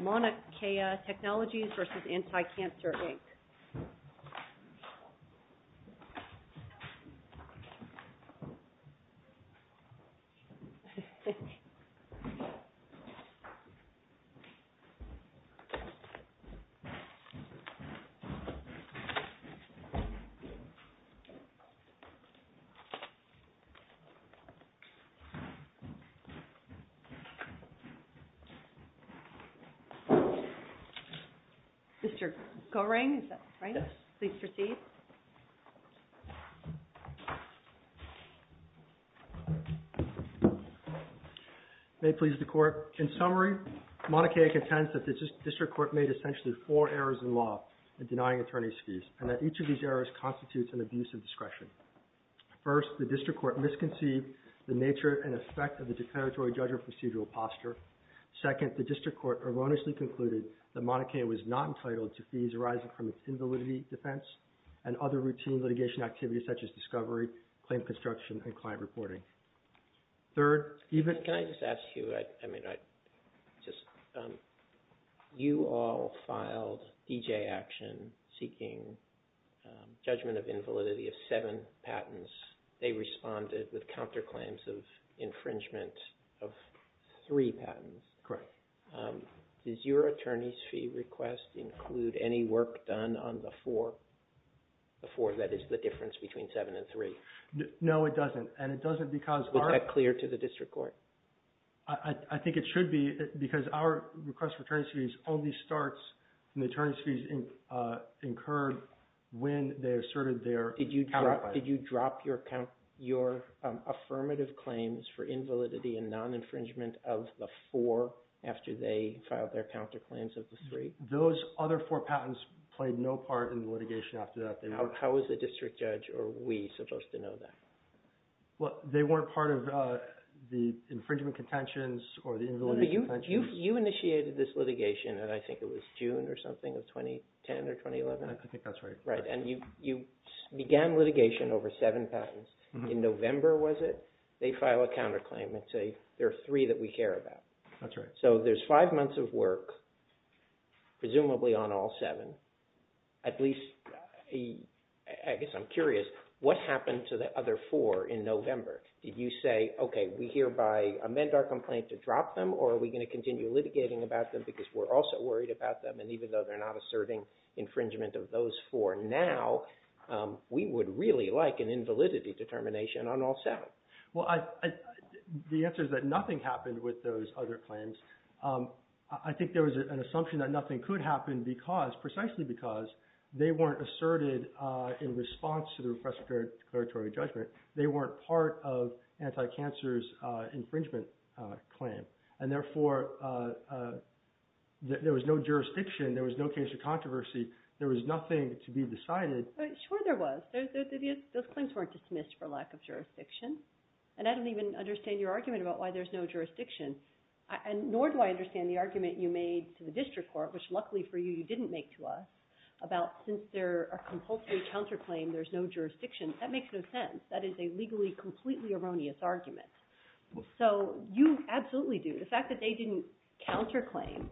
Monarch Kea Technologies v. Anticancer, Inc. May it please the Court, in summary, Mauna Kea contends that the District Court made essentially four errors in law in denying attorney's fees, and that each of these errors constitutes an abuse of discretion. First, the District Court misconceived the nature and effect of the declaratory judgment procedural posture. Second, the District Court erroneously concluded that Mauna Kea was not entitled to fees arising from its invalidity defense and other routine litigation activities such as discovery, claim construction, and client reporting. Third, even... Can I just ask you, I mean, just, you all filed D.J. action seeking judgment of invalidity of seven patents. They responded with counterclaims of infringement of three patents. Correct. Does your attorney's fee request include any work done on the four? The four, that is, the difference between seven and three. No, it doesn't, and it doesn't because our... Was that clear to the District Court? I think it should be, because our request for attorney's fees only starts when the attorney's fees incurred when they asserted their... Counterclaims. Did you drop your affirmative claims for invalidity and non-infringement of the four after they filed their counterclaims of the three? Those other four patents played no part in the litigation after that. How is the district judge, or we, supposed to know that? They weren't part of the infringement contentions or the invalidity contentions. You initiated this litigation, and I think it was June or something of 2010 or 2011? I think that's right. You began litigation over seven patents. In November, was it, they file a counterclaim and say, there are three that we care about. That's right. So there's five months of work, presumably on all seven. At least, I guess I'm curious, what happened to the other four in November? Did you say, okay, we hereby amend our complaint to drop them, or are we going to continue litigating about them because we're also worried about them, and even though they're not asserting infringement of those four now, we would really like an invalidity determination on all seven? Well, the answer is that nothing happened with those other claims. I think there was an assumption that nothing could happen because, precisely because, they weren't asserted in response to the request for declaratory judgment. They weren't part of anti-cancer's infringement claim, and therefore, there was no jurisdiction, there was no cancer controversy, there was nothing to be decided. Sure there was. Those claims weren't dismissed for lack of jurisdiction, and I don't even understand your argument about why there's no jurisdiction, nor do I understand the argument you made to the district court, which luckily for you, you didn't make to us, about since they're a compulsory counterclaim, there's no jurisdiction. That makes no sense. That is a legally completely erroneous argument. So you absolutely do. The fact that they didn't counterclaim,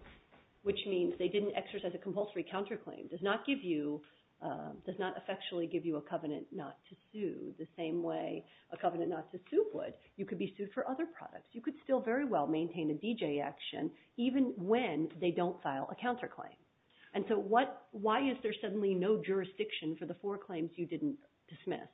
which means they didn't exercise a compulsory counterclaim, does not give you, does not effectually give you a covenant not to sue the same way a covenant not to sue would. You could be sued for other products. You could still very well maintain a DJ action, even when they don't file a counterclaim. And so why is there suddenly no jurisdiction for the four claims you didn't dismiss?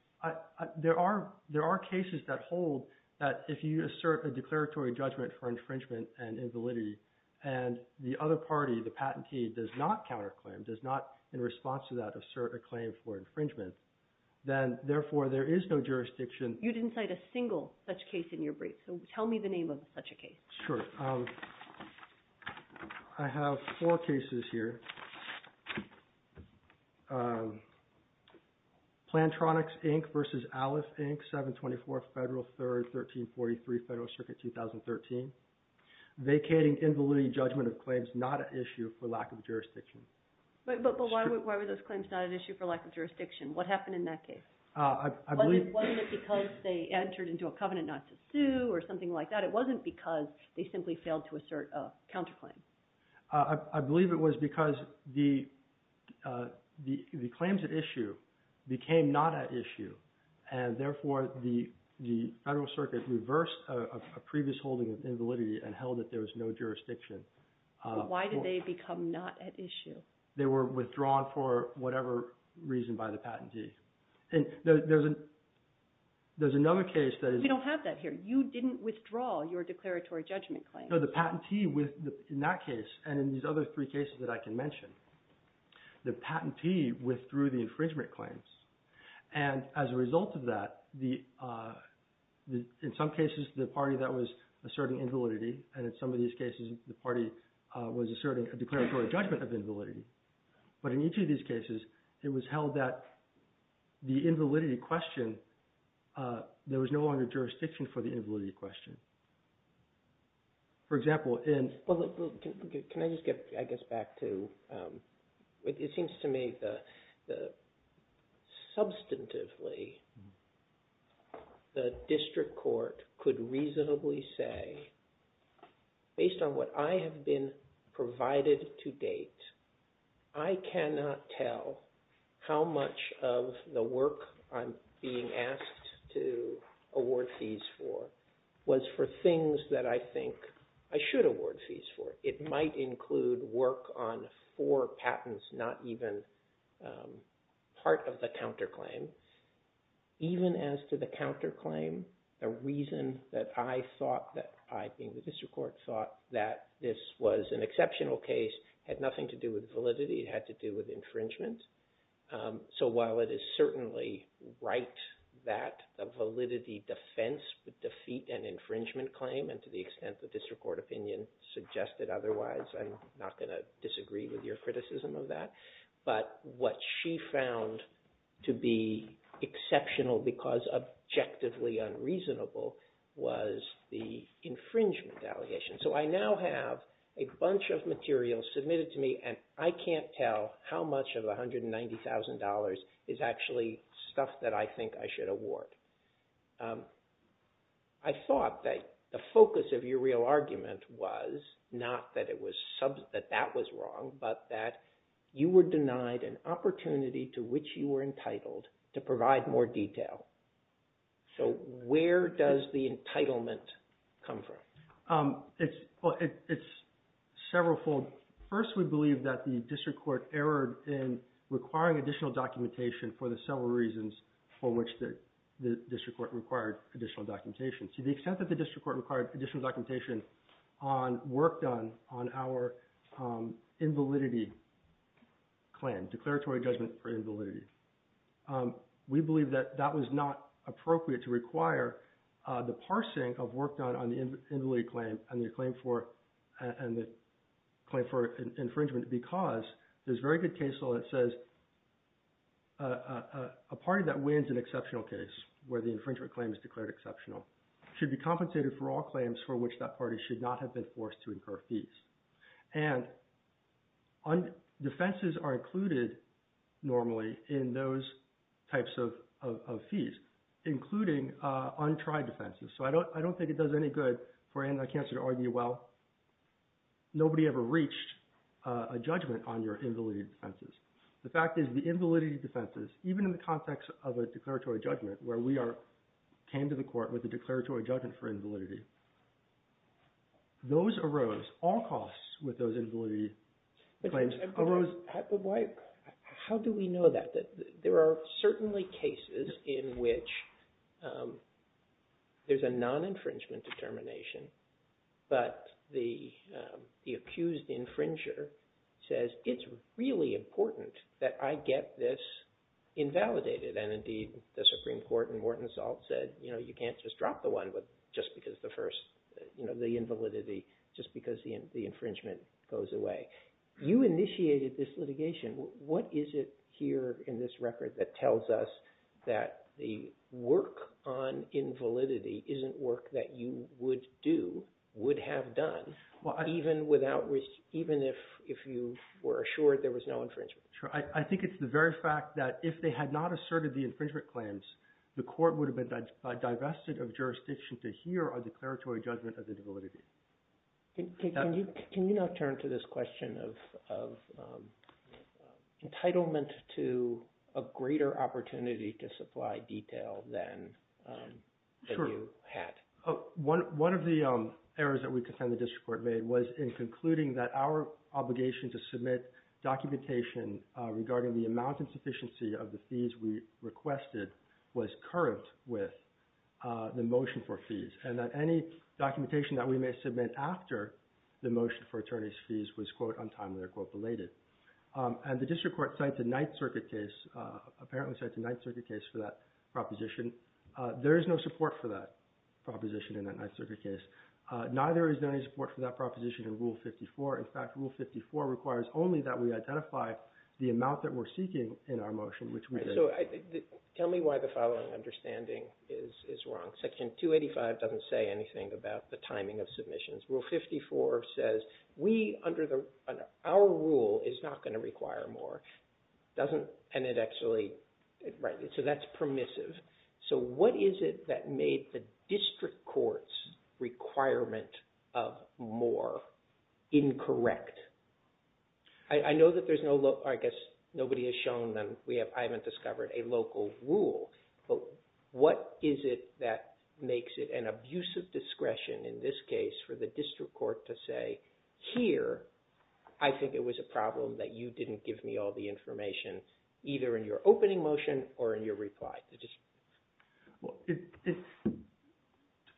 There are cases that hold that if you assert a declaratory judgment for infringement and invalidity, and the other party, the patentee, does not counterclaim, does not in response to that assert a claim for infringement, then therefore there is no jurisdiction. You didn't cite a single such case in your brief, so tell me the name of such a case. Sure. I have four cases here. Plantronics, Inc. versus Alice, Inc., 724 Federal 3rd, 1343 Federal Circuit, 2013, vacating invalidity judgment of claims not an issue for lack of jurisdiction. But why were those claims not an issue for lack of jurisdiction? What happened in that case? I believe... Wasn't it because they entered into a covenant not to sue or something like that? It wasn't because they simply failed to assert a counterclaim? I believe it was because the claims at issue became not at issue, and therefore the Federal Circuit reversed a previous holding of invalidity and held that there was no jurisdiction. Why did they become not at issue? They were withdrawn for whatever reason by the patentee. There's another case that is... We don't have that here. You didn't withdraw your declaratory judgment claim. The patentee, in that case, and in these other three cases that I can mention, the patentee withdrew the infringement claims. And as a result of that, in some cases, the party that was asserting invalidity, and in some of these cases, the party was asserting a declaratory judgment of invalidity. But in each of these cases, it was held that the invalidity question, there was no longer For example, in... Well, can I just get, I guess, back to... It seems to me that substantively, the district court could reasonably say, based on what I have been provided to date, I cannot tell how much of the work I'm being asked to award fees for was for things that I think I should award fees for. It might include work on four patents, not even part of the counterclaim. Even as to the counterclaim, the reason that I thought that I, being the district court, thought that this was an exceptional case had nothing to do with validity. It had to do with infringement. So while it is certainly right that a validity defense would defeat an infringement claim, and to the extent the district court opinion suggested otherwise, I'm not going to disagree with your criticism of that. But what she found to be exceptional, because objectively unreasonable, was the infringement allegation. So I now have a bunch of material submitted to me, and I can't tell how much of the $190,000 is actually stuff that I think I should award. I thought that the focus of your real argument was not that that was wrong, but that you were denied an opportunity to which you were entitled to provide more detail. So where does the entitlement come from? Well, it's several fold. First, we believe that the district court erred in requiring additional documentation for the several reasons for which the district court required additional documentation. To the extent that the district court required additional documentation on work done on our invalidity claim, declaratory judgment for invalidity, we believe that that was not appropriate to require the parsing of work done on the invalidity claim and the claim for infringement because there's very good case law that says a party that wins an exceptional case, where the infringement claim is declared exceptional, should be compensated for all claims for which that party should not have been forced to incur fees. And defenses are included normally in those types of fees, including untried defenses. So I don't think it does any good for Anand Icahn to argue, well, nobody ever reached a judgment on your invalidity defenses. The fact is the invalidity defenses, even in the context of a declaratory judgment where we came to the court with a declaratory judgment for invalidity. Those arose, all costs with those invalidity claims arose. How do we know that? There are certainly cases in which there's a non-infringement determination, but the accused infringer says, it's really important that I get this invalidated. And indeed, the Supreme Court in Morton Salt said, you can't just drop the one just because the first, the invalidity, just because the infringement goes away. You initiated this litigation. What is it here in this record that tells us that the work on invalidity isn't work that you would do, would have done, even if you were assured there was no infringement? Sure. I think it's the very fact that if they had not asserted the infringement claims, the declaratory judgment of the invalidity. Can you now turn to this question of entitlement to a greater opportunity to supply detail than you had? One of the errors that we could find the district court made was in concluding that our obligation to submit documentation regarding the amount and sufficiency of the fees we requested was concurrent with the motion for fees, and that any documentation that we may submit after the motion for attorney's fees was, quote, untimely or, quote, belated. And the district court cited the Ninth Circuit case, apparently cited the Ninth Circuit case for that proposition. There is no support for that proposition in that Ninth Circuit case. Neither is there any support for that proposition in Rule 54. In fact, Rule 54 requires only that we identify the amount that we're seeking in our motion, which we did. So tell me why the following understanding is wrong. Section 285 doesn't say anything about the timing of submissions. Rule 54 says we, under our rule, is not going to require more. And it actually, right, so that's permissive. So what is it that made the district court's requirement of more incorrect? I know that there's no, I guess nobody has shown them, I haven't discovered a local rule, but what is it that makes it an abusive discretion, in this case, for the district court to say, here, I think it was a problem that you didn't give me all the information, either in your opening motion or in your reply to the district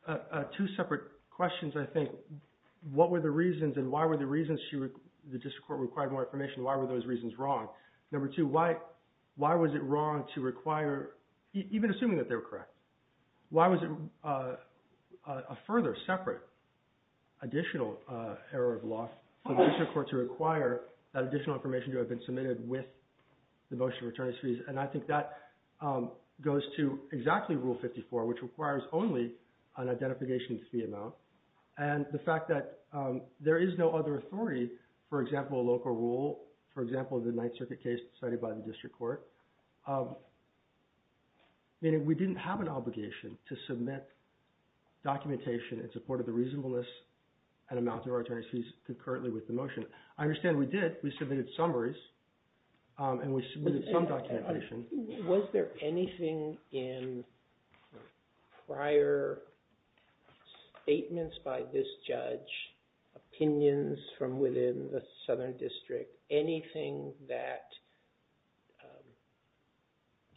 court? Two separate questions, I think. One, what were the reasons and why were the reasons the district court required more information, why were those reasons wrong? Number two, why was it wrong to require, even assuming that they were correct, why was it a further separate additional error of law for the district court to require that additional information to have been submitted with the motion of return of fees? And I think that goes to exactly Rule 54, which requires only an identification fee amount, and the fact that there is no other authority, for example, a local rule, for example, the Ninth Circuit case decided by the district court, meaning we didn't have an obligation to submit documentation in support of the reasonableness and amount of our return of fees concurrently with the motion. I understand we did, we submitted summaries, and we submitted some documentation. Was there anything in prior statements by this judge, opinions from within the Southern District, anything that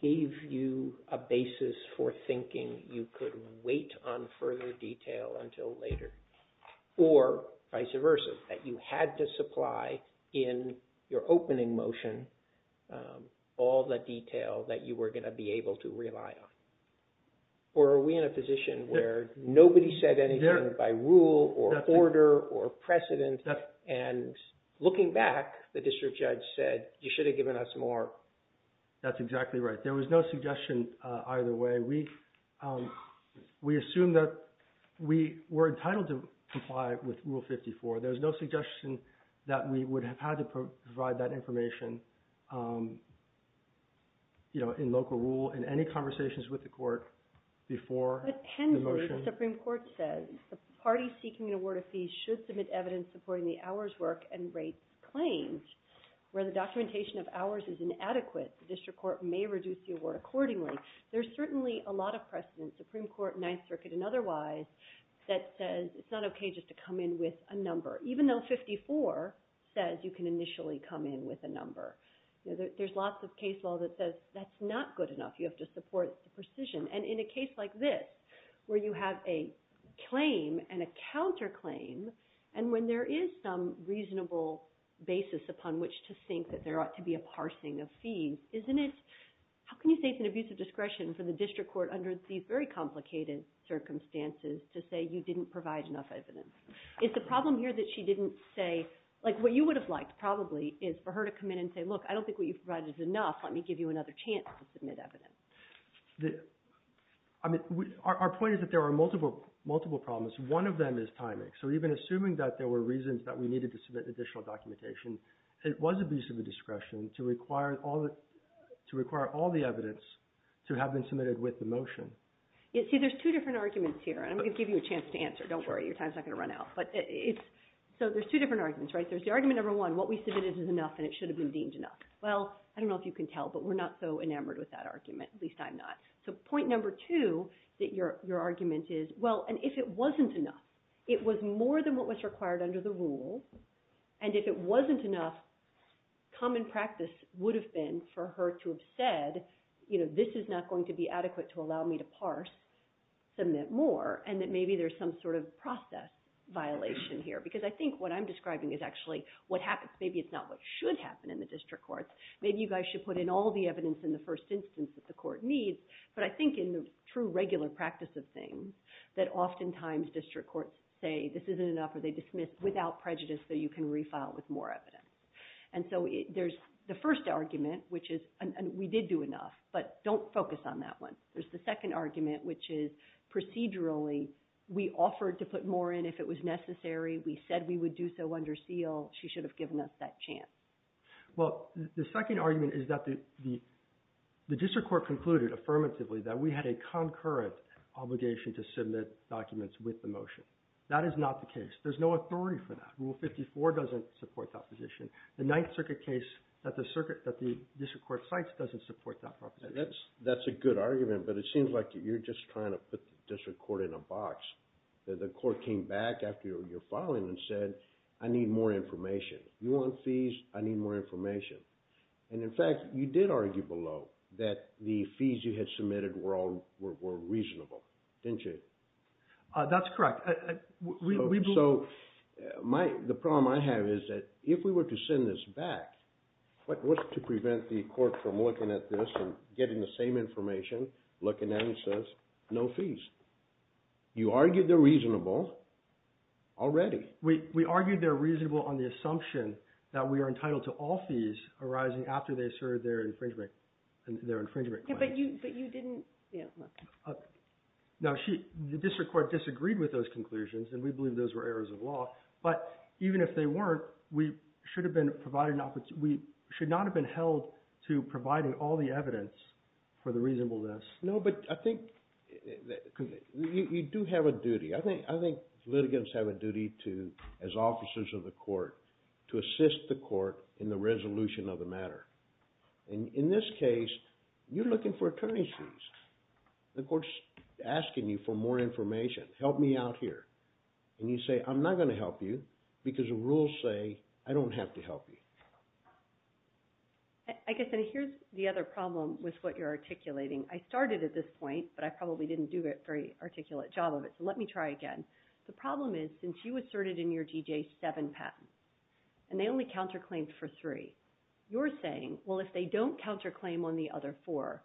gave you a basis for thinking you could wait on further detail until later, or vice versa, that you had to supply in your opening motion all the detail that you were going to be able to rely on? Or are we in a position where nobody said anything by rule, or order, or precedent, and looking back, the district judge said, you should have given us more? That's exactly right. There was no suggestion either way. We assume that we were entitled to comply with Rule 54. There was no suggestion that we would have had to provide that information in local rule in any conversations with the court before the motion. But Henry, the Supreme Court says, the party seeking an award of fees should submit evidence supporting the hours work and rates claims, where the documentation of hours is inadequate, the district court may reduce the award accordingly. There's certainly a lot of precedent, Supreme Court, Ninth Circuit, and otherwise, that says it's not okay just to come in with a number, even though 54 says you can initially come in with a number. There's lots of case law that says that's not good enough. You have to support the precision. And in a case like this, where you have a claim and a counterclaim, and when there is some reasonable basis upon which to think that there ought to be a parsing of fees, isn't it, how can you say it's an abuse of discretion for the district court under these very complicated circumstances to say you didn't provide enough evidence? It's a problem here that she didn't say, like what you would have liked probably is for her to come in and say, look, I don't think what you've provided is enough, let me give you another chance to submit evidence. Our point is that there are multiple problems. One of them is timing. So even assuming that there were reasons that we needed to submit additional documentation, it was abuse of discretion to require all the evidence to have been submitted with the motion. See, there's two different arguments here, and I'm going to give you a chance to answer. Don't worry, your time's not going to run out. So there's two different arguments, right? There's the argument number one, what we submitted is enough, and it should have been deemed enough. Well, I don't know if you can tell, but we're not so enamored with that argument. At least I'm not. So point number two, that your argument is, well, and if it wasn't enough, it was more than what was required under the rule, and if it wasn't enough, common practice would have been for her to have said, you know, this is not going to be adequate to allow me to parse, submit more, and that maybe there's some sort of process violation here. Because I think what I'm describing is actually what happens, maybe it's not what should happen in the district courts. Maybe you guys should put in all the evidence in the first instance that the court needs, but I think in the true regular practice of things, that oftentimes district courts say this isn't enough or they dismiss without prejudice that you can refile with more evidence. And so there's the first argument, which is, we did do enough, but don't focus on that one. There's the second argument, which is procedurally, we offered to put more in if it was necessary. We said we would do so under seal. She should have given us that chance. Well, the second argument is that the district court concluded affirmatively that we had a concurrent obligation to submit documents with the motion. That is not the case. There's no authority for that. Rule 54 doesn't support that position. The Ninth Circuit case that the district court cites doesn't support that proposition. That's a good argument, but it seems like you're just trying to put the district court in a box. The court came back after your filing and said, I need more information. You want fees? I need more information. And in fact, you did argue below that the fees you had submitted were reasonable, didn't you? That's correct. So, the problem I have is that if we were to send this back, what's to prevent the court from looking at this and getting the same information, looking at it, and says, no fees? You argued they're reasonable already. We argued they're reasonable on the assumption that we are entitled to all fees arising after they serve their infringement claims. But you didn't... Now, the district court disagreed with those conclusions, and we believe those were errors of law. But even if they weren't, we should not have been held to providing all the evidence for the reasonableness. No, but I think you do have a duty. I think litigants have a duty to, as officers of the court, to assist the court in the resolution of the matter. And in this case, you're looking for attorney's fees. The court's asking you for more information. Help me out here. And you say, I'm not going to help you, because the rules say I don't have to help you. I guess, and here's the other problem with what you're articulating. I started at this point, but I probably didn't do a very articulate job of it, so let me try again. The problem is, since you asserted in your D.J. seven patents, and they only counterclaimed for three, you're saying, well, if they don't counterclaim on the other four,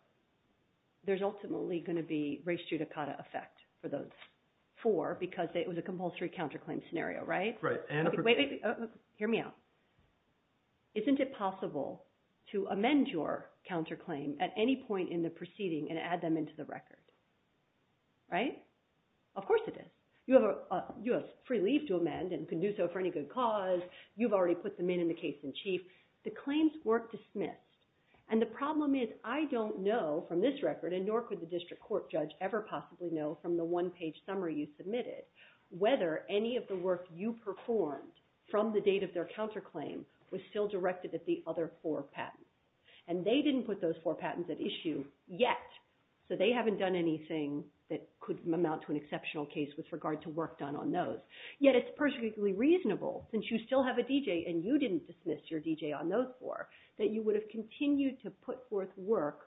there's ultimately going to be res judicata effect for those four, because it was a compulsory counterclaim scenario, right? Right. And a particular- Wait, wait, wait. Hear me out. Isn't it possible to amend your counterclaim at any point in the proceeding and add them into the record? Right? Of course it is. You have free leave to amend and can do so for any good cause. You've already put them in in the case in chief. The claims were dismissed. And the problem is, I don't know from this record, and nor could the district court judge ever possibly know from the one-page summary you submitted, whether any of the work you performed from the date of their counterclaim was still directed at the other four patents. And they didn't put those four patents at issue yet, so they haven't done anything that could amount to an exceptional case with regard to work done on those. Yet it's perfectly reasonable, since you still have a DJ and you didn't dismiss your DJ on those four, that you would have continued to put forth work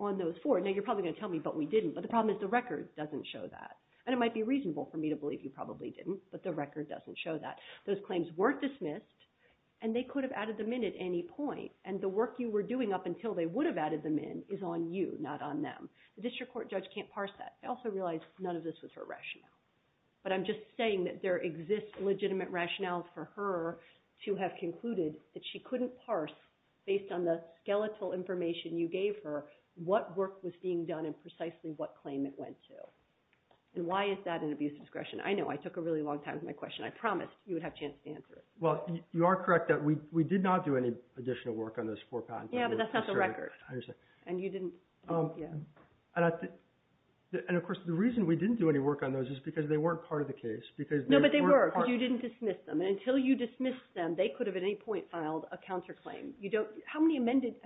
on those four. Now, you're probably going to tell me, but we didn't, but the problem is the record doesn't show that. And it might be reasonable for me to believe you probably didn't, but the record doesn't show that. Those claims weren't dismissed, and they could have added them in at any point. And the work you were doing up until they would have added them in is on you, not on them. The district court judge can't parse that. I also realize none of this was her rationale. But I'm just saying that there exists legitimate rationales for her to have concluded that she couldn't parse, based on the skeletal information you gave her, what work was being done and precisely what claim it went to. And why is that an abuse of discretion? I know, I took a really long time with my question. I promised you would have a chance to answer it. Well, you are correct that we did not do any additional work on those four patents. Yeah, but that's not the record. And you didn't? And of course, the reason we didn't do any work on those is because they weren't part of the case. No, but they were. Because you didn't dismiss them. And until you dismissed them, they could have at any point filed a counterclaim. How many precedents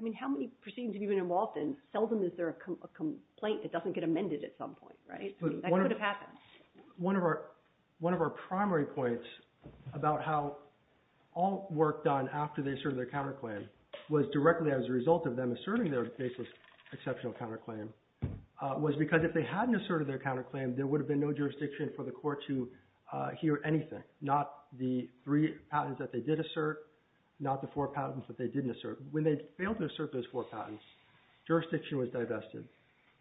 have you been involved in, seldom is there a complaint that doesn't get amended at some point, right? That could have happened. One of our primary points about how all work done after they served their counterclaim was directly as a result of them asserting their baseless exceptional counterclaim, was because if they hadn't asserted their counterclaim, there would have been no jurisdiction for the court to hear anything. Not the three patents that they did assert, not the four patents that they didn't assert. When they failed to assert those four patents, jurisdiction was divested.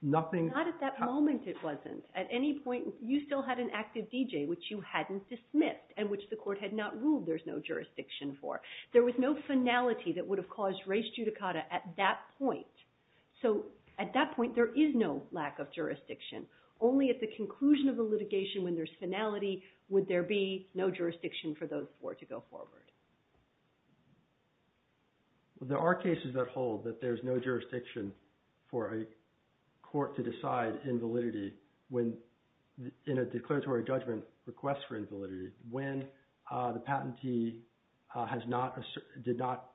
Nothing Not at that moment it wasn't. At any point, you still had an active DJ which you hadn't dismissed and which the court had not ruled there's no jurisdiction for. There was no finality that would have caused race judicata at that point. So at that point, there is no lack of jurisdiction. Only at the conclusion of the litigation when there's finality, would there be no jurisdiction for those four to go forward. There are cases that hold that there's no jurisdiction for a court to decide invalidity in a declaratory judgment request for invalidity when the patentee did not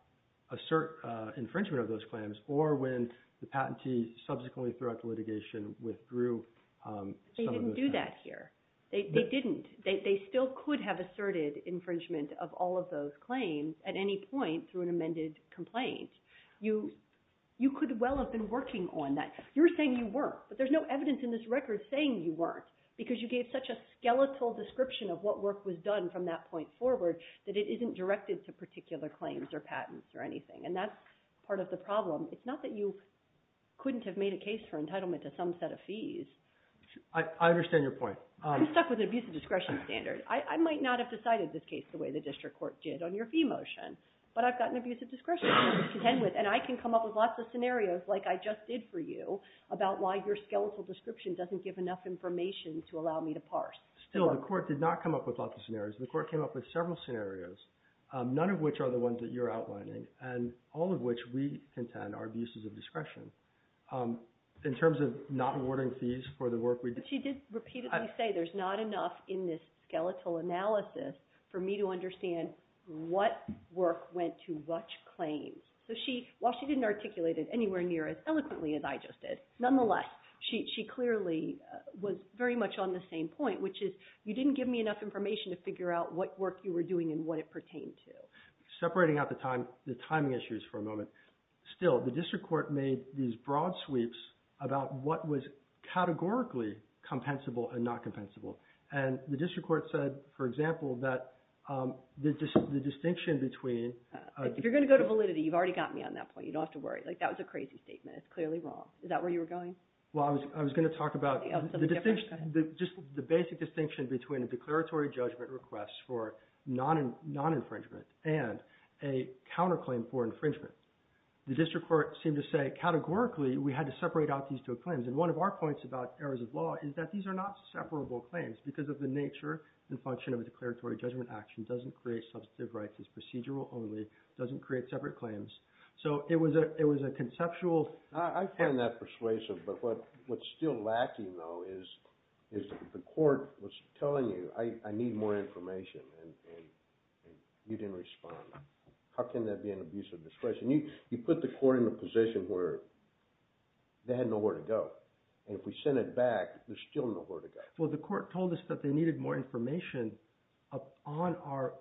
assert infringement of those claims or when the patentee subsequently throughout the litigation withdrew some of those claims. They didn't do that here. They didn't. They still could have asserted infringement of all of those claims at any point through an amended complaint. You could well have been working on that. You were saying you weren't. But there's no evidence in this record saying you weren't. Because you gave such a skeletal description of what work was done from that point forward that it isn't directed to particular claims or patents or anything. And that's part of the problem. It's not that you couldn't have made a case for entitlement to some set of fees. I understand your point. I'm stuck with an abuse of discretion standard. I might not have decided this case the way the district court did on your fee motion. But I've gotten abuse of discretion to contend with and I can come up with lots of scenarios like I just did for you about why your skeletal description doesn't give enough information to allow me to parse. Still, the court did not come up with lots of scenarios. The court came up with several scenarios, none of which are the ones that you're outlining and all of which we contend are abuses of discretion. In terms of not awarding fees for the work we did. She did repeatedly say there's not enough in this skeletal analysis for me to understand what work went to which claims. So while she didn't articulate it anywhere near as eloquently as I just did, nonetheless, she clearly was very much on the same point, which is you didn't give me enough information to figure out what work you were doing and what it pertained to. Separating out the timing issues for a moment, still, the district court made these broad sweeps about what was categorically compensable and not compensable. And the district court said, for example, that the distinction between... If you're going to go to validity, you've already got me on that point. You don't have to worry. That was a crazy statement. It's clearly wrong. Is that where you were going? Well, I was going to talk about the distinction, just the basic distinction between a declaratory judgment request for non-infringement and a counterclaim for infringement. The district court seemed to say categorically we had to separate out these two claims. And one of our points about errors of law is that these are not separable claims because of the nature and function of a declaratory judgment action doesn't create substantive rights. It's procedural only. It doesn't create separate claims. So it was a conceptual... I find that persuasive, but what's still lacking, though, is the court was telling you, I need more information, and you didn't respond. How can that be an abuse of discretion? You put the court in a position where they had nowhere to go, and if we send it back, there's still nowhere to go. Well, the court told us that they needed more information on our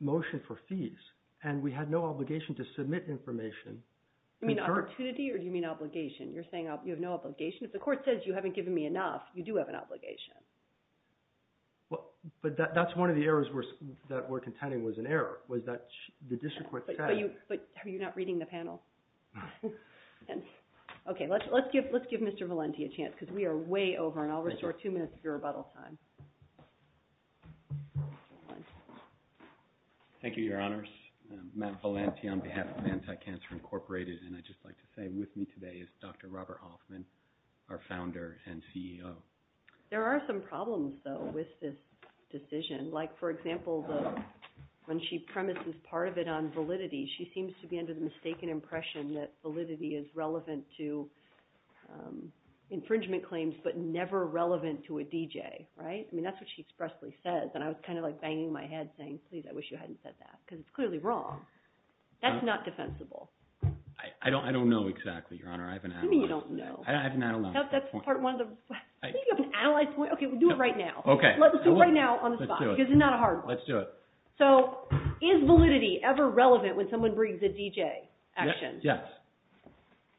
motion for fees, and we had no obligation to submit information. You mean opportunity, or do you mean obligation? You're saying you have no obligation? If the court says you haven't given me enough, you do have an obligation. But that's one of the errors that we're contending was an error, was that the district court said... But are you not reading the panel? Okay, let's give Mr. Valenti a chance because we are way over, and I'll restore two minutes of your rebuttal time. Thank you, Your Honors. Matt Valenti on behalf of Anti-Cancer Incorporated, and I'd just like to say with me today is Dr. Robert Hoffman, our founder and CEO. There are some problems, though, with this decision, like, for example, when she premises part of it on validity, she seems to be under the mistaken impression that validity is relevant to infringement claims, but never relevant to a DJ, right? I mean, that's what she expressly says, and I was kind of, like, banging my head, saying, please, I wish you hadn't said that, because it's clearly wrong. That's not defensible. I don't know exactly, Your Honor. I haven't analyzed that. You mean you don't know? I haven't analyzed that point. That's part of one of the... I think you have an analyzed point. Okay, we'll do it right now. Okay. Let's do it right now on the spot. Let's do it. Because it's not a hard one. Let's do it. So, is validity ever relevant when someone brings a DJ action? Yes.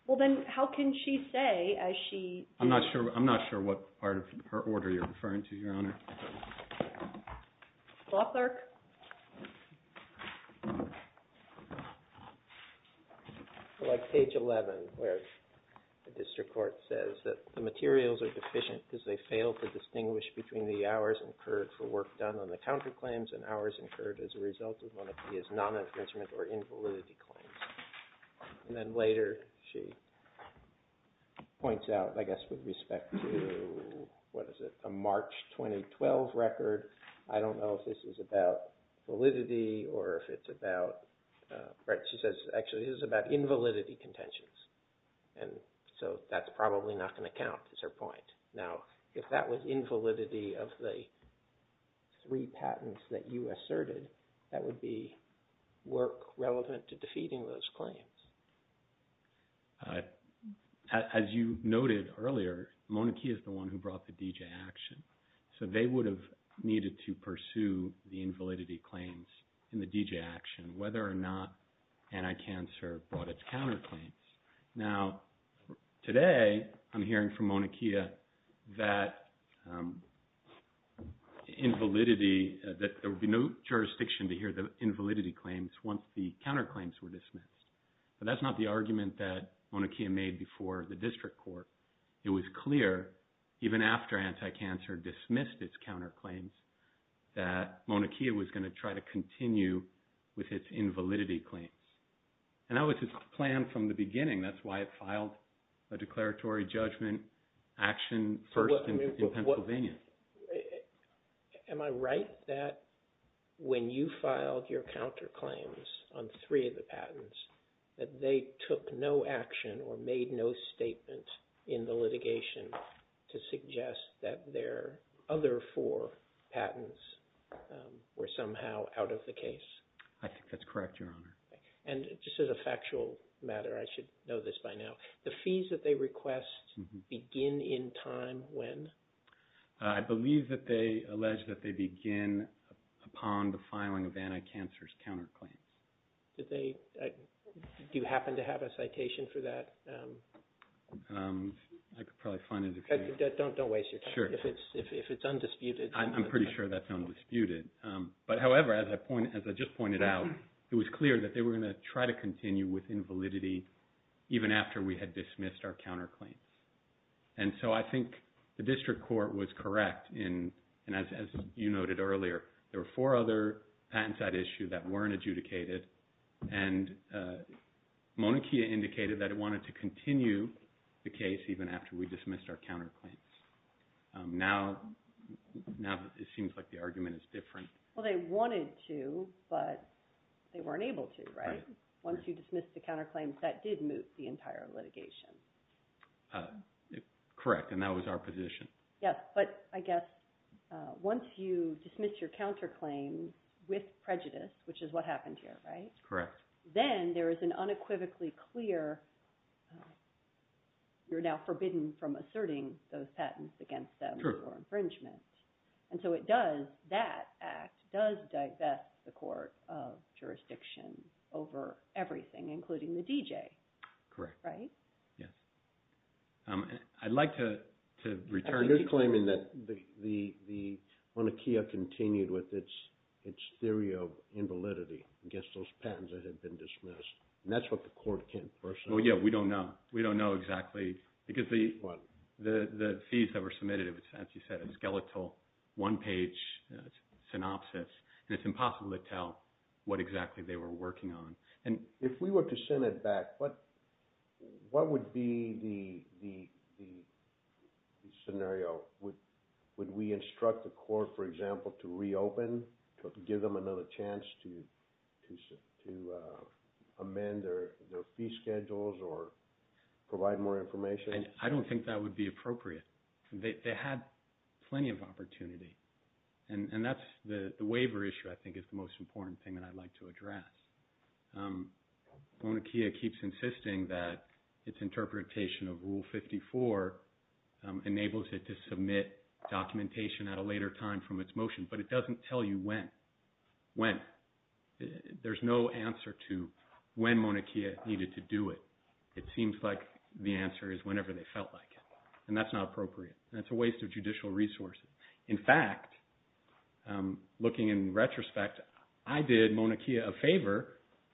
Well, then, how can she say, as she... I'm not sure what part of her order you're referring to, Your Honor. Law clerk. Like page 11, where the district court says that the materials are deficient because they fail to distinguish between the hours incurred for work done on the counterclaims and hours incurred as a result of one of these non-infringement or invalidity claims. And then, later, she points out, I guess, with respect to, what is it, a March 2012 record. I don't know if this is about validity or if it's about... Right, she says, actually, this is about invalidity contentions. And so, that's probably not going to count, is her point. Now, if that was invalidity of the three patents that you asserted, that would be work relevant to defeating those claims? As you noted earlier, Monakia is the one who brought the DJ action. So, they would have needed to pursue the invalidity claims in the DJ action, whether or not Anti-Cancer brought its counterclaims. Now, today, I'm hearing from Monakia that there would be no jurisdiction to hear the counterclaims were dismissed. But that's not the argument that Monakia made before the district court. It was clear, even after Anti-Cancer dismissed its counterclaims, that Monakia was going to try to continue with its invalidity claims. And that was its plan from the beginning. That's why it filed a declaratory judgment action first in Pennsylvania. Am I right that when you filed your counterclaims on three of the patents, that they took no action or made no statement in the litigation to suggest that their other four patents were somehow out of the case? I think that's correct, Your Honor. And just as a factual matter, I should know this by now, the fees that they request begin in time when? I believe that they allege that they begin upon the filing of Anti-Cancer's counterclaims. Do you happen to have a citation for that? I could probably find it. Don't waste your time. Sure. If it's undisputed. I'm pretty sure that's undisputed. But however, as I just pointed out, it was clear that they were going to try to continue with invalidity even after we had dismissed our counterclaims. And so I think the district court was correct. And as you noted earlier, there were four other patents at issue that weren't adjudicated. And Monechia indicated that it wanted to continue the case even after we dismissed our counterclaims. Now it seems like the argument is different. Well, they wanted to, but they weren't able to, right? Once you dismissed the counterclaims, that did move the entire litigation. Correct. And that was our position. Yes. But I guess once you dismiss your counterclaims with prejudice, which is what happened here, right? Correct. Then there is an unequivocally clear, you're now forbidden from asserting those patents against them for infringement. And so it does, that act does divest the court of jurisdiction over everything, including the DJ. Correct. Right? Yes. I'd like to return to- You're claiming that the Monechia continued with its theory of invalidity against those patents that had been dismissed. And that's what the court can't personally- Well, yeah, we don't know. We don't know exactly, because the fees that were submitted, it was, as you said, a skeletal, one-page synopsis. And it's impossible to tell what exactly they were working on. If we were to send it back, what would be the scenario? Would we instruct the court, for example, to reopen, to give them another chance to amend their fee schedules or provide more information? I don't think that would be appropriate. They had plenty of opportunity. And that's the waiver issue, I think, is the most important thing that I'd like to address. Monechia keeps insisting that its interpretation of Rule 54 enables it to submit documentation at a later time from its motion, but it doesn't tell you when. When. There's no answer to when Monechia needed to do it. It seems like the answer is whenever they felt like it. And that's not appropriate. And that's a waste of judicial resources. In fact, looking in retrospect, I did Monechia a favor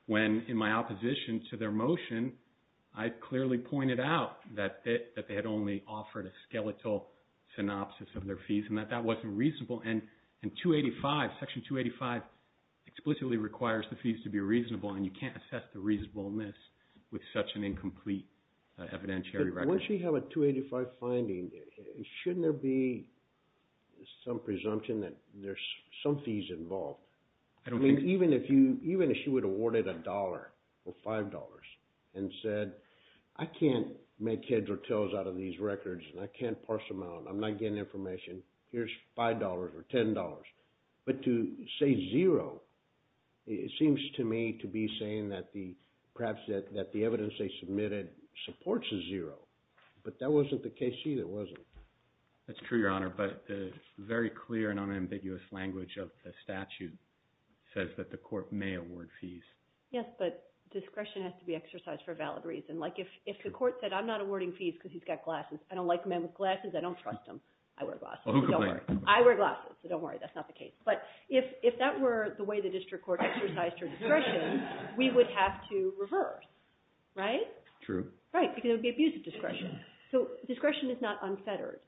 when, in my opposition to their motion, I clearly pointed out that they had only offered a skeletal synopsis of their fees and that that wasn't reasonable. And Section 285 explicitly requires the fees to be reasonable, and you can't assess the reasonableness with such an incomplete evidentiary record. Now, once you have a 285 finding, shouldn't there be some presumption that there's some fees involved? I don't think so. I mean, even if you, even if she would have awarded a dollar or five dollars and said, I can't make heads or tails out of these records, and I can't parse them out, I'm not getting information, here's five dollars or ten dollars. But to say zero, it seems to me to be saying that the, perhaps that the evidence they submitted supports a zero, but that wasn't the case either, was it? That's true, Your Honor, but the very clear and unambiguous language of the statute says that the court may award fees. Yes, but discretion has to be exercised for a valid reason. Like, if the court said, I'm not awarding fees because he's got glasses, I don't like a man with glasses, I don't trust him, I wear glasses. I wear glasses, so don't worry, that's not the case. But if that were the way the district court exercised her discretion, we would have to reverse, right? Right, because it would be abuse of discretion. So discretion is not unfettered.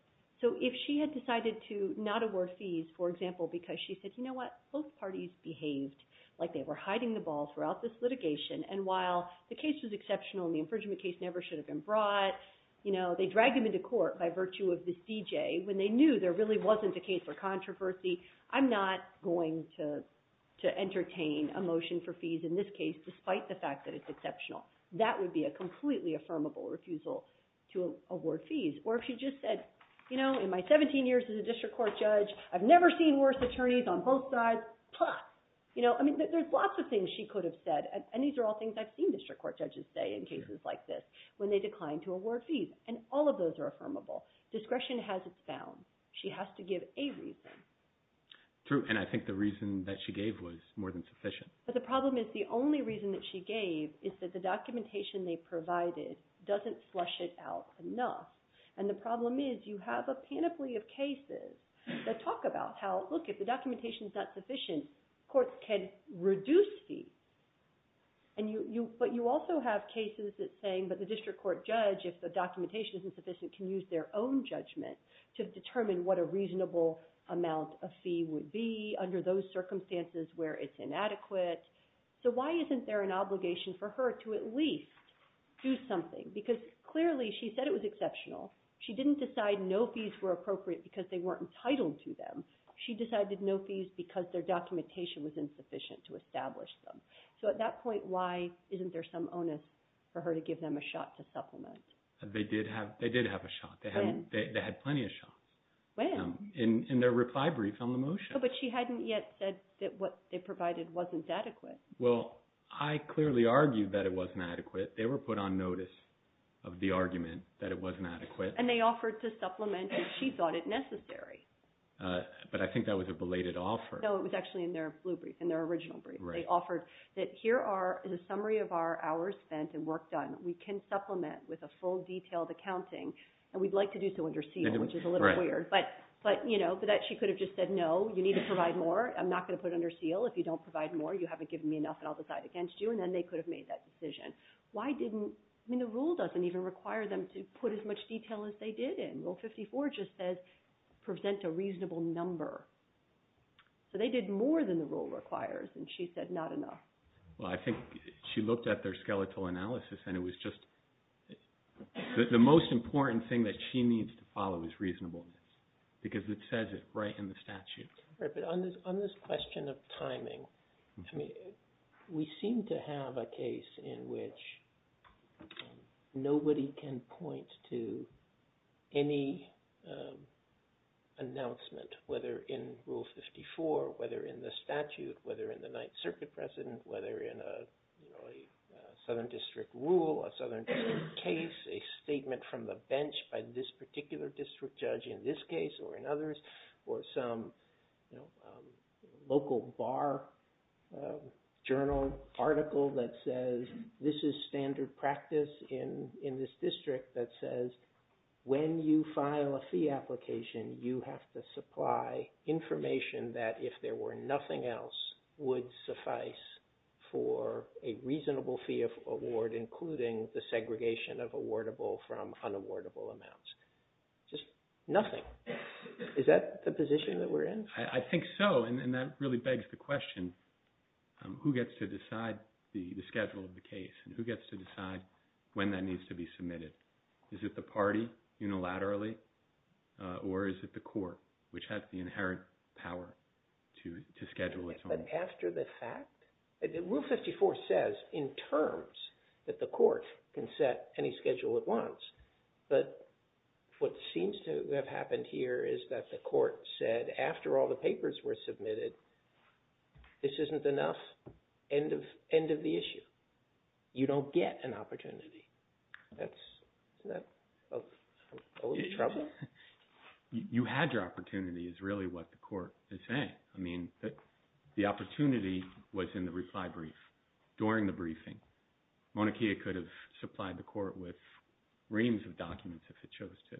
So if she had decided to not award fees, for example, because she said, you know what, both parties behaved like they were hiding the ball throughout this litigation, and while the case was exceptional and the infringement case never should have been brought, you know, they dragged him into court by virtue of this DJ when they knew there really wasn't a case for controversy, I'm not going to entertain a motion for fees in this case despite the fact that it's exceptional. That would be a completely affirmable refusal to award fees. Or if she just said, you know, in my 17 years as a district court judge, I've never seen worse attorneys on both sides. You know, I mean, there's lots of things she could have said, and these are all things I've seen district court judges say in cases like this, when they decline to award fees. And all of those are affirmable. Discretion has its bounds. She has to give a reason. True, and I think the reason that she gave was more than sufficient. But the problem is the only reason that she gave is that the documentation they provided doesn't flush it out enough. And the problem is you have a panoply of cases that talk about how, look, if the documentation is not sufficient, courts can reduce fees. But you also have cases that say, but the district court judge, if the documentation isn't sufficient, can use their own judgment to determine what a reasonable amount of fee would be under those circumstances where it's inadequate. So why isn't there an obligation for her to at least do something? Because clearly she said it was exceptional. She didn't decide no fees were appropriate because they weren't entitled to them. She decided no fees because their documentation was insufficient to establish them. So at that point, why isn't there some onus for her to give them a shot to supplement? They did have a shot. When? They had plenty of shots. When? In their reply brief on the motion. But she hadn't yet said that what they provided wasn't adequate. Well, I clearly argued that it wasn't adequate. They were put on notice of the argument that it wasn't adequate. And they offered to supplement if she thought it necessary. But I think that was a belated offer. No, it was actually in their blue brief, in their original brief. They offered that here is a summary of our hours spent and work done. We can supplement with a full detailed accounting. And we'd like to do so under seal, which is a little weird. But she could have just said, no, you need to provide more. I'm not going to put it under seal. If you don't provide more, you haven't given me enough, and I'll decide against you. And then they could have made that decision. The rule doesn't even require them to put as much detail as they did. Rule 54 just says present a reasonable number. So they did more than the rule requires. And she said not enough. Well, I think she looked at their skeletal analysis. The most important thing that she needs to follow is reasonableness. Because it says it right in the statute. On this question of timing, we seem to have a case in which nobody can point to any announcement, whether in Rule 54, whether in the statute, whether in the Ninth Circuit precedent, whether in a Southern District rule, a Southern District case, a statement from the bench by this particular district judge in this case or in others, or some local bar journal article that says, this is standard practice in this district that says, when you file a fee application, you have to supply information that if there were nothing else would suffice for a reasonable fee of award, including the segregation of awardable from unawardable amounts. Just nothing. Is that the position that we're in? I think so. And that really begs the question, who gets to decide the schedule of the case? And who gets to decide when that needs to be submitted? Is it the party unilaterally? Or is it the court, which has the inherent power to schedule its own? But after the fact? Rule 54 says in terms that the court can set any schedule it wants. But what seems to have happened here is that the court said, after all the papers were submitted, this isn't enough. End of the issue. You don't get an opportunity. Isn't that a little troubling? You had your opportunity is really what the court is saying. I mean, the opportunity was in the reply brief. During the briefing, Mauna Kea could have supplied the court with reams of documents if it chose to.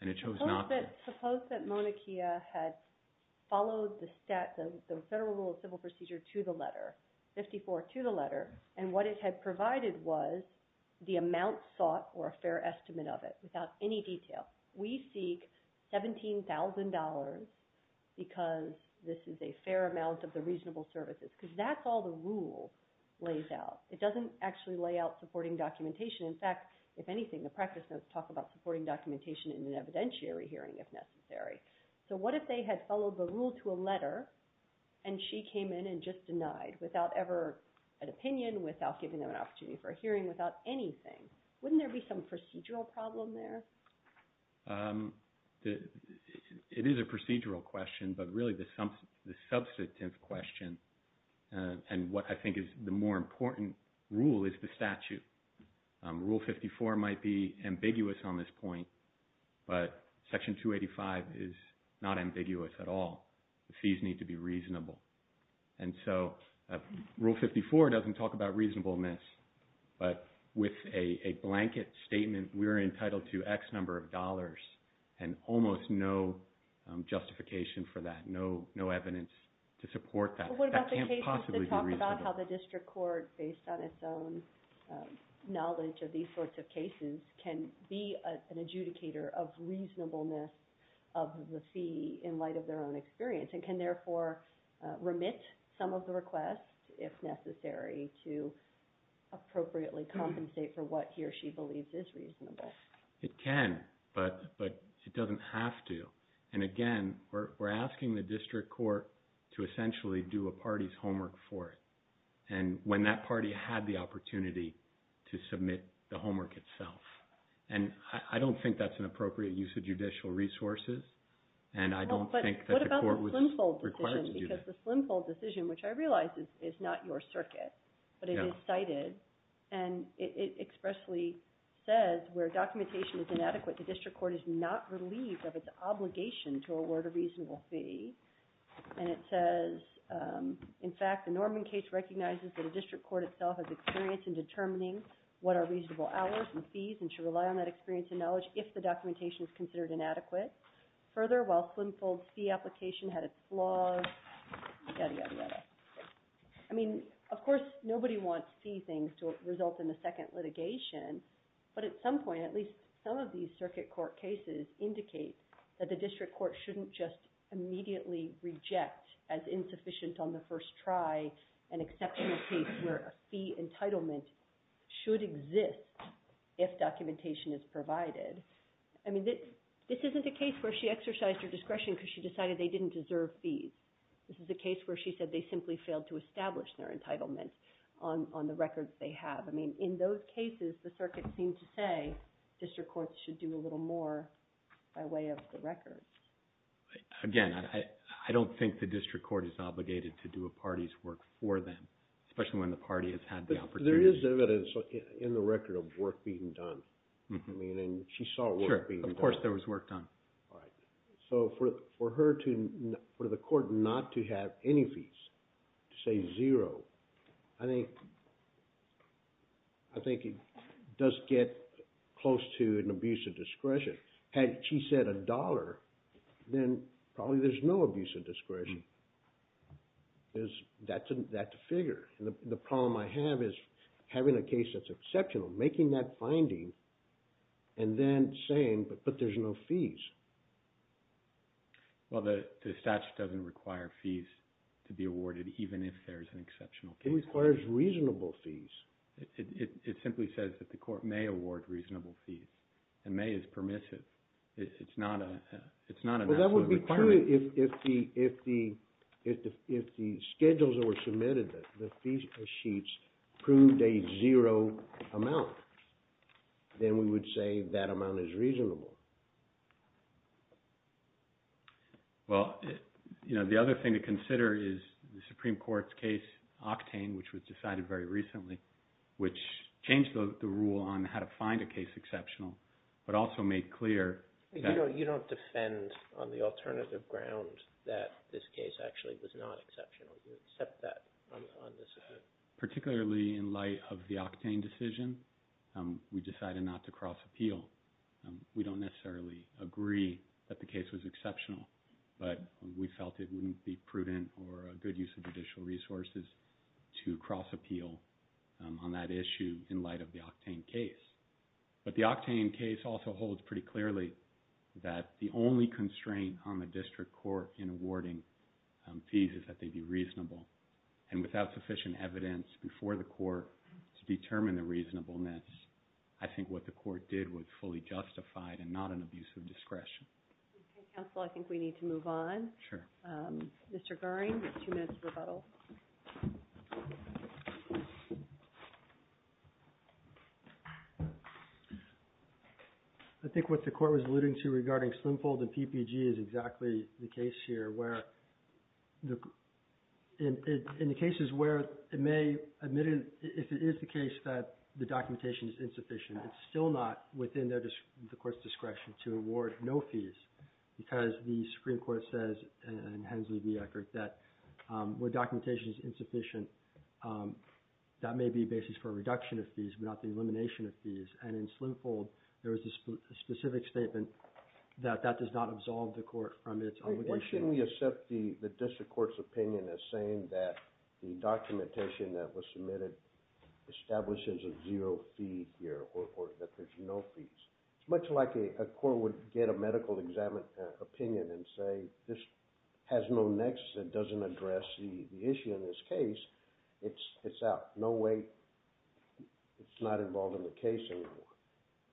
And it chose not to. Suppose that Mauna Kea had followed the federal rule of civil procedure to the letter, 54 to the letter, and what it had provided was the amount sought or a fair estimate of it, without any detail. We seek $17,000 because this is a fair amount of the reasonable services. Because that's all the rule lays out. It doesn't actually lay out supporting documentation. In fact, if anything, the practice notes talk about supporting documentation in an evidentiary hearing if necessary. So what if they had followed the rule to a letter, and she came in and just denied without ever an opinion, without giving them an opportunity for a hearing, without anything? Wouldn't there be some procedural problem there? It is a procedural question, but really the substantive question and what I think is the more important rule is the statute. Rule 54 might be ambiguous on this point, but Section 285 is not ambiguous at all. The fees need to be reasonable. And so Rule 54 doesn't talk about reasonableness, but with a blanket statement, we are entitled to X number of dollars and almost no justification for that, no evidence to support that. That can't possibly be reasonable. But what about the cases that talk about how the district court, based on its own knowledge of these sorts of cases, can be an adjudicator of reasonableness of the fee in light of their own experience and can therefore remit some of the requests, if necessary, to appropriately compensate for what he or she believes is reasonable? It can, but it doesn't have to. And again, we're asking the district court to essentially do a party's homework for it. And when that party had the opportunity to submit the homework itself. And I don't think that's an appropriate use of judicial resources, and I don't think that the court was required to do that. But what about the Slimfold decision? Because the Slimfold decision, which I realize is not your circuit, but it is cited, and it expressly says, where documentation is inadequate, the district court is not relieved of its obligation to award a reasonable fee. And it says, in fact, the Norman case recognizes has experience in determining what are reasonable hours and fees and should rely on that experience and knowledge if the documentation is considered inadequate. Further, while Slimfold's fee application had its flaws, yada, yada, yada. I mean, of course, nobody wants fee things to result in a second litigation, but at some point, at least some of these circuit court cases indicate that the district court shouldn't just immediately reject as insufficient on the first try an exceptional case where a fee entitlement should exist if documentation is provided. I mean, this isn't a case where she exercised her discretion because she decided they didn't deserve fees. This is a case where she said they simply failed to establish their entitlement on the records they have. I mean, in those cases, the circuit seemed to say district courts should do a little more by way of the records. Again, I don't think the district court is obligated to do a party's work for them, especially when the party has had the opportunity. There is evidence in the record of work being done. I mean, she saw work being done. Sure, of course there was work done. So for the court not to have any fees, to say zero, I think it does get close to an abuse of discretion. Had she said a dollar, then probably there's no abuse of discretion. That's a figure. The problem I have is having a case that's exceptional, making that finding, and then saying, but there's no fees. Well, the statute doesn't require fees to be awarded even if there's an exceptional case. It requires reasonable fees. It simply says that the court may award reasonable fees. And may is permissive. It's not an absolute requirement. Well, that would be true if the schedules that were submitted, the fee sheets, proved a zero amount. Then we would say that amount is reasonable. Well, the other thing to consider is the Supreme Court's case, Octane, which was decided very recently, which changed the rule on how to find a case exceptional, but also made clear that you don't defend on the alternative ground that this case actually was not exceptional. You accept that. Particularly in light of the Octane decision, we decided not to cross appeal. We don't necessarily agree that the case was exceptional, but we felt it wouldn't be prudent or a good use of judicial resources to cross appeal on that issue in light of the Octane case. But the Octane case also holds pretty clearly that the only constraint on the district court in awarding fees is that they be reasonable. Without sufficient evidence before the court to determine the reasonableness, I think what the court did was fully justified and not an abuse of discretion. Okay, counsel. I think we need to move on. Sure. Mr. Goring, you have two minutes for rebuttal. I think what the court was alluding to regarding Slimfold and PPG is exactly the case here where in the cases where it may admit if it is the case that the documentation is insufficient, it's still not within the court's discretion to award no fees because the Supreme Court says and Hensley v. Eckert that where documentation is insufficient that may be a basis for a reduction of fees but not the elimination of fees. And in Slimfold, there is a specific statement that that does not absolve the court from its obligation. Why shouldn't we accept the district court's opinion as saying that the documentation that was submitted establishes a zero fee here or that there's no fees? It's much like a court would get a medical opinion and say this has no nexus it doesn't address the issue in this case it's out. No way it's not involved in the case anymore.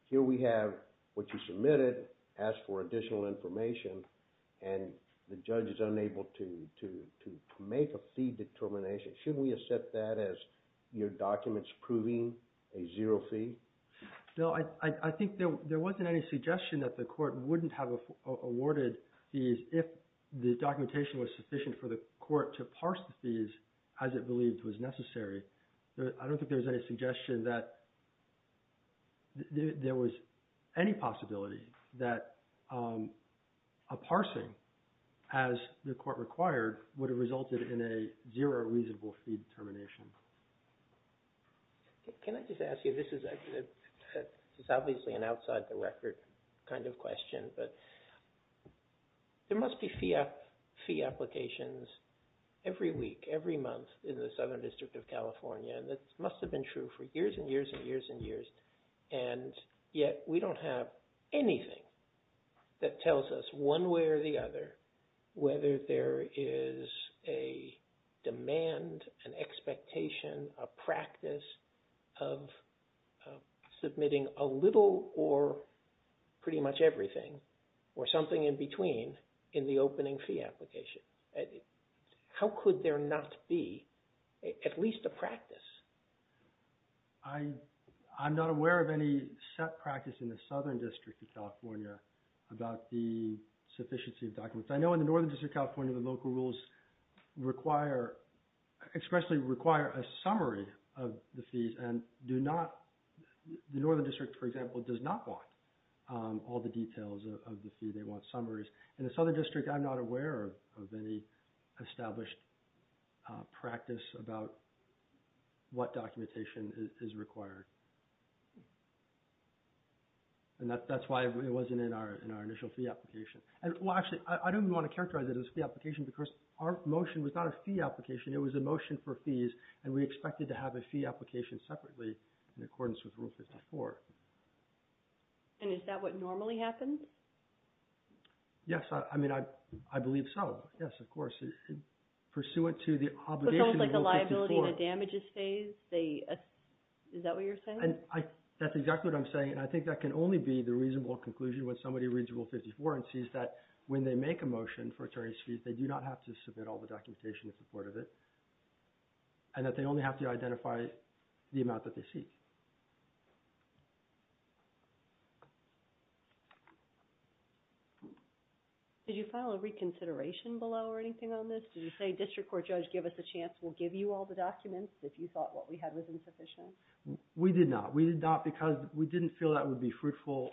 Here we have what you submitted asked for additional information and the judge is unable to make a fee determination. Shouldn't we accept that as your document's proving a zero fee? No, I think there wasn't any suggestion that the court wouldn't have awarded fees if the documentation was sufficient for the court to parse the fees as it believed was necessary. I don't think there was any suggestion that there was any possibility that a parsing as the court required would have resulted in a zero reasonable fee determination. Can I just ask you this is obviously an outside the record kind of question but there must be fee applications every week, every month in the Southern District of California and that must have been true for years and years and years and years and yet we don't have anything that tells us one way or the other whether there is a demand an expectation, a practice of submitting a little or pretty much everything or something in between in the opening fee application. How could there not be at least a practice? I'm not aware of any set practice in the Southern District of California about the sufficiency of documents. I know in the Northern District of California the local rules expressly require a summary of the fees and do not the Northern District for example does not want all the details of the fee, they want summaries. In the Southern District I'm not aware of any established practice about what documentation is required and that's why it wasn't in our initial fee application and well actually I don't even want to characterize it as a fee application, it was a motion for fees and we expected to have a fee application separately in accordance with Rule 54. And is that what normally happens? Yes, I mean I believe so, yes of course pursuant to the obligation of Rule 54. So it's like a liability and a damages phase? Is that what you're saying? That's exactly what I'm saying and I think that can only be the reasonable conclusion when somebody reads Rule 54 and sees that when they make a motion for attorney's fees they do not have to submit all the documentation in support of it and that they only have to identify the amount that they seek. Did you file a reconsideration below or anything on this? Did you say District Court Judge give us a chance we'll give you all the documents if you thought what we had was insufficient? We did not, we did not because we didn't feel that would be fruitful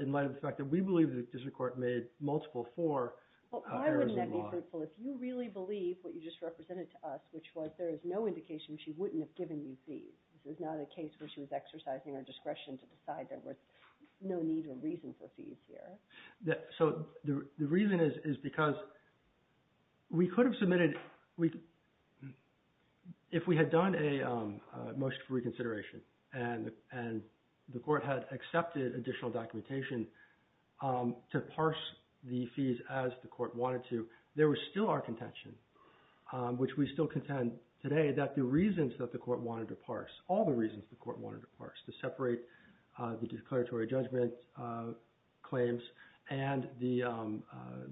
in light of the fact that we believe District Court made multiple for. Why wouldn't that be fruitful if you really believe what you just represented to us which was there is no indication she wouldn't have given you fees this is not a case where she was exercising her discretion to decide there was no need or reason for fees here. So the reason is because we could have submitted if we had done a motion for reconsideration and the court had accepted additional documentation to parse the fees as the court wanted to there was still our contention which we still contend today that the reasons that the court wanted to parse all the reasons the court wanted to parse to separate the declaratory judgment claims and the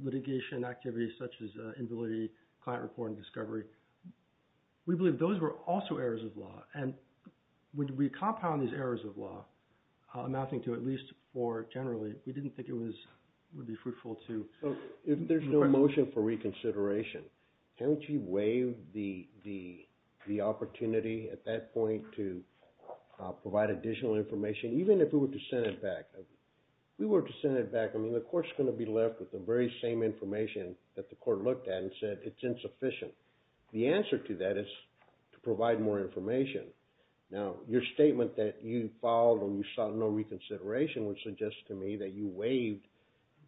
litigation activities such as inability client reporting discovery we believe those were also errors of law and when we compound these errors of law amounting to at least four generally we didn't think it would be fruitful to If there is no motion for reconsideration haven't you waived the opportunity at that point to provide additional information even if we were to send it back if we were to send it back the court is going to be left with the very same information that the court looked at and said it's insufficient the answer to that is to provide more information now your statement that you filed and you sought no reconsideration would suggest to me that you waived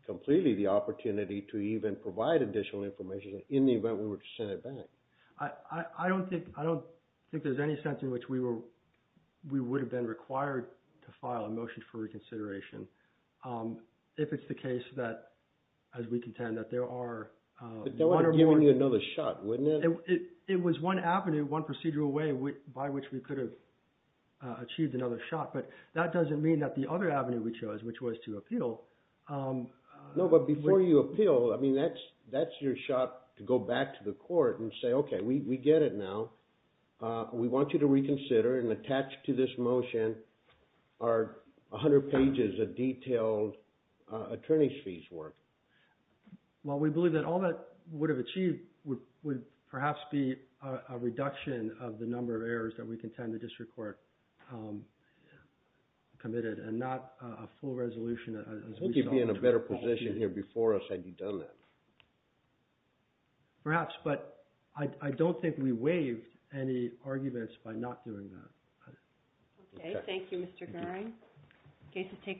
completely the opportunity to even provide additional information in the event we were to send it back I don't think there's any sense in which we would have been required to file a motion for reconsideration if it's the case that as we contend that there are one or more it was one avenue one procedural way by which we could have achieved another shot but that doesn't mean that the other avenue we chose which was to appeal No but before you appeal that's your shot to go back to the court and say okay we get it now we want you to reconsider and attach to this motion our 100 pages of detailed attorney's fees work Well we believe that all that would have achieved would perhaps be a reduction of the number of errors that we contend the district court committed and not a full resolution Would you be in a better position here before us had you done that? Perhaps but I don't think we waived any arguments by not doing that Okay Thank you Mr. Gehring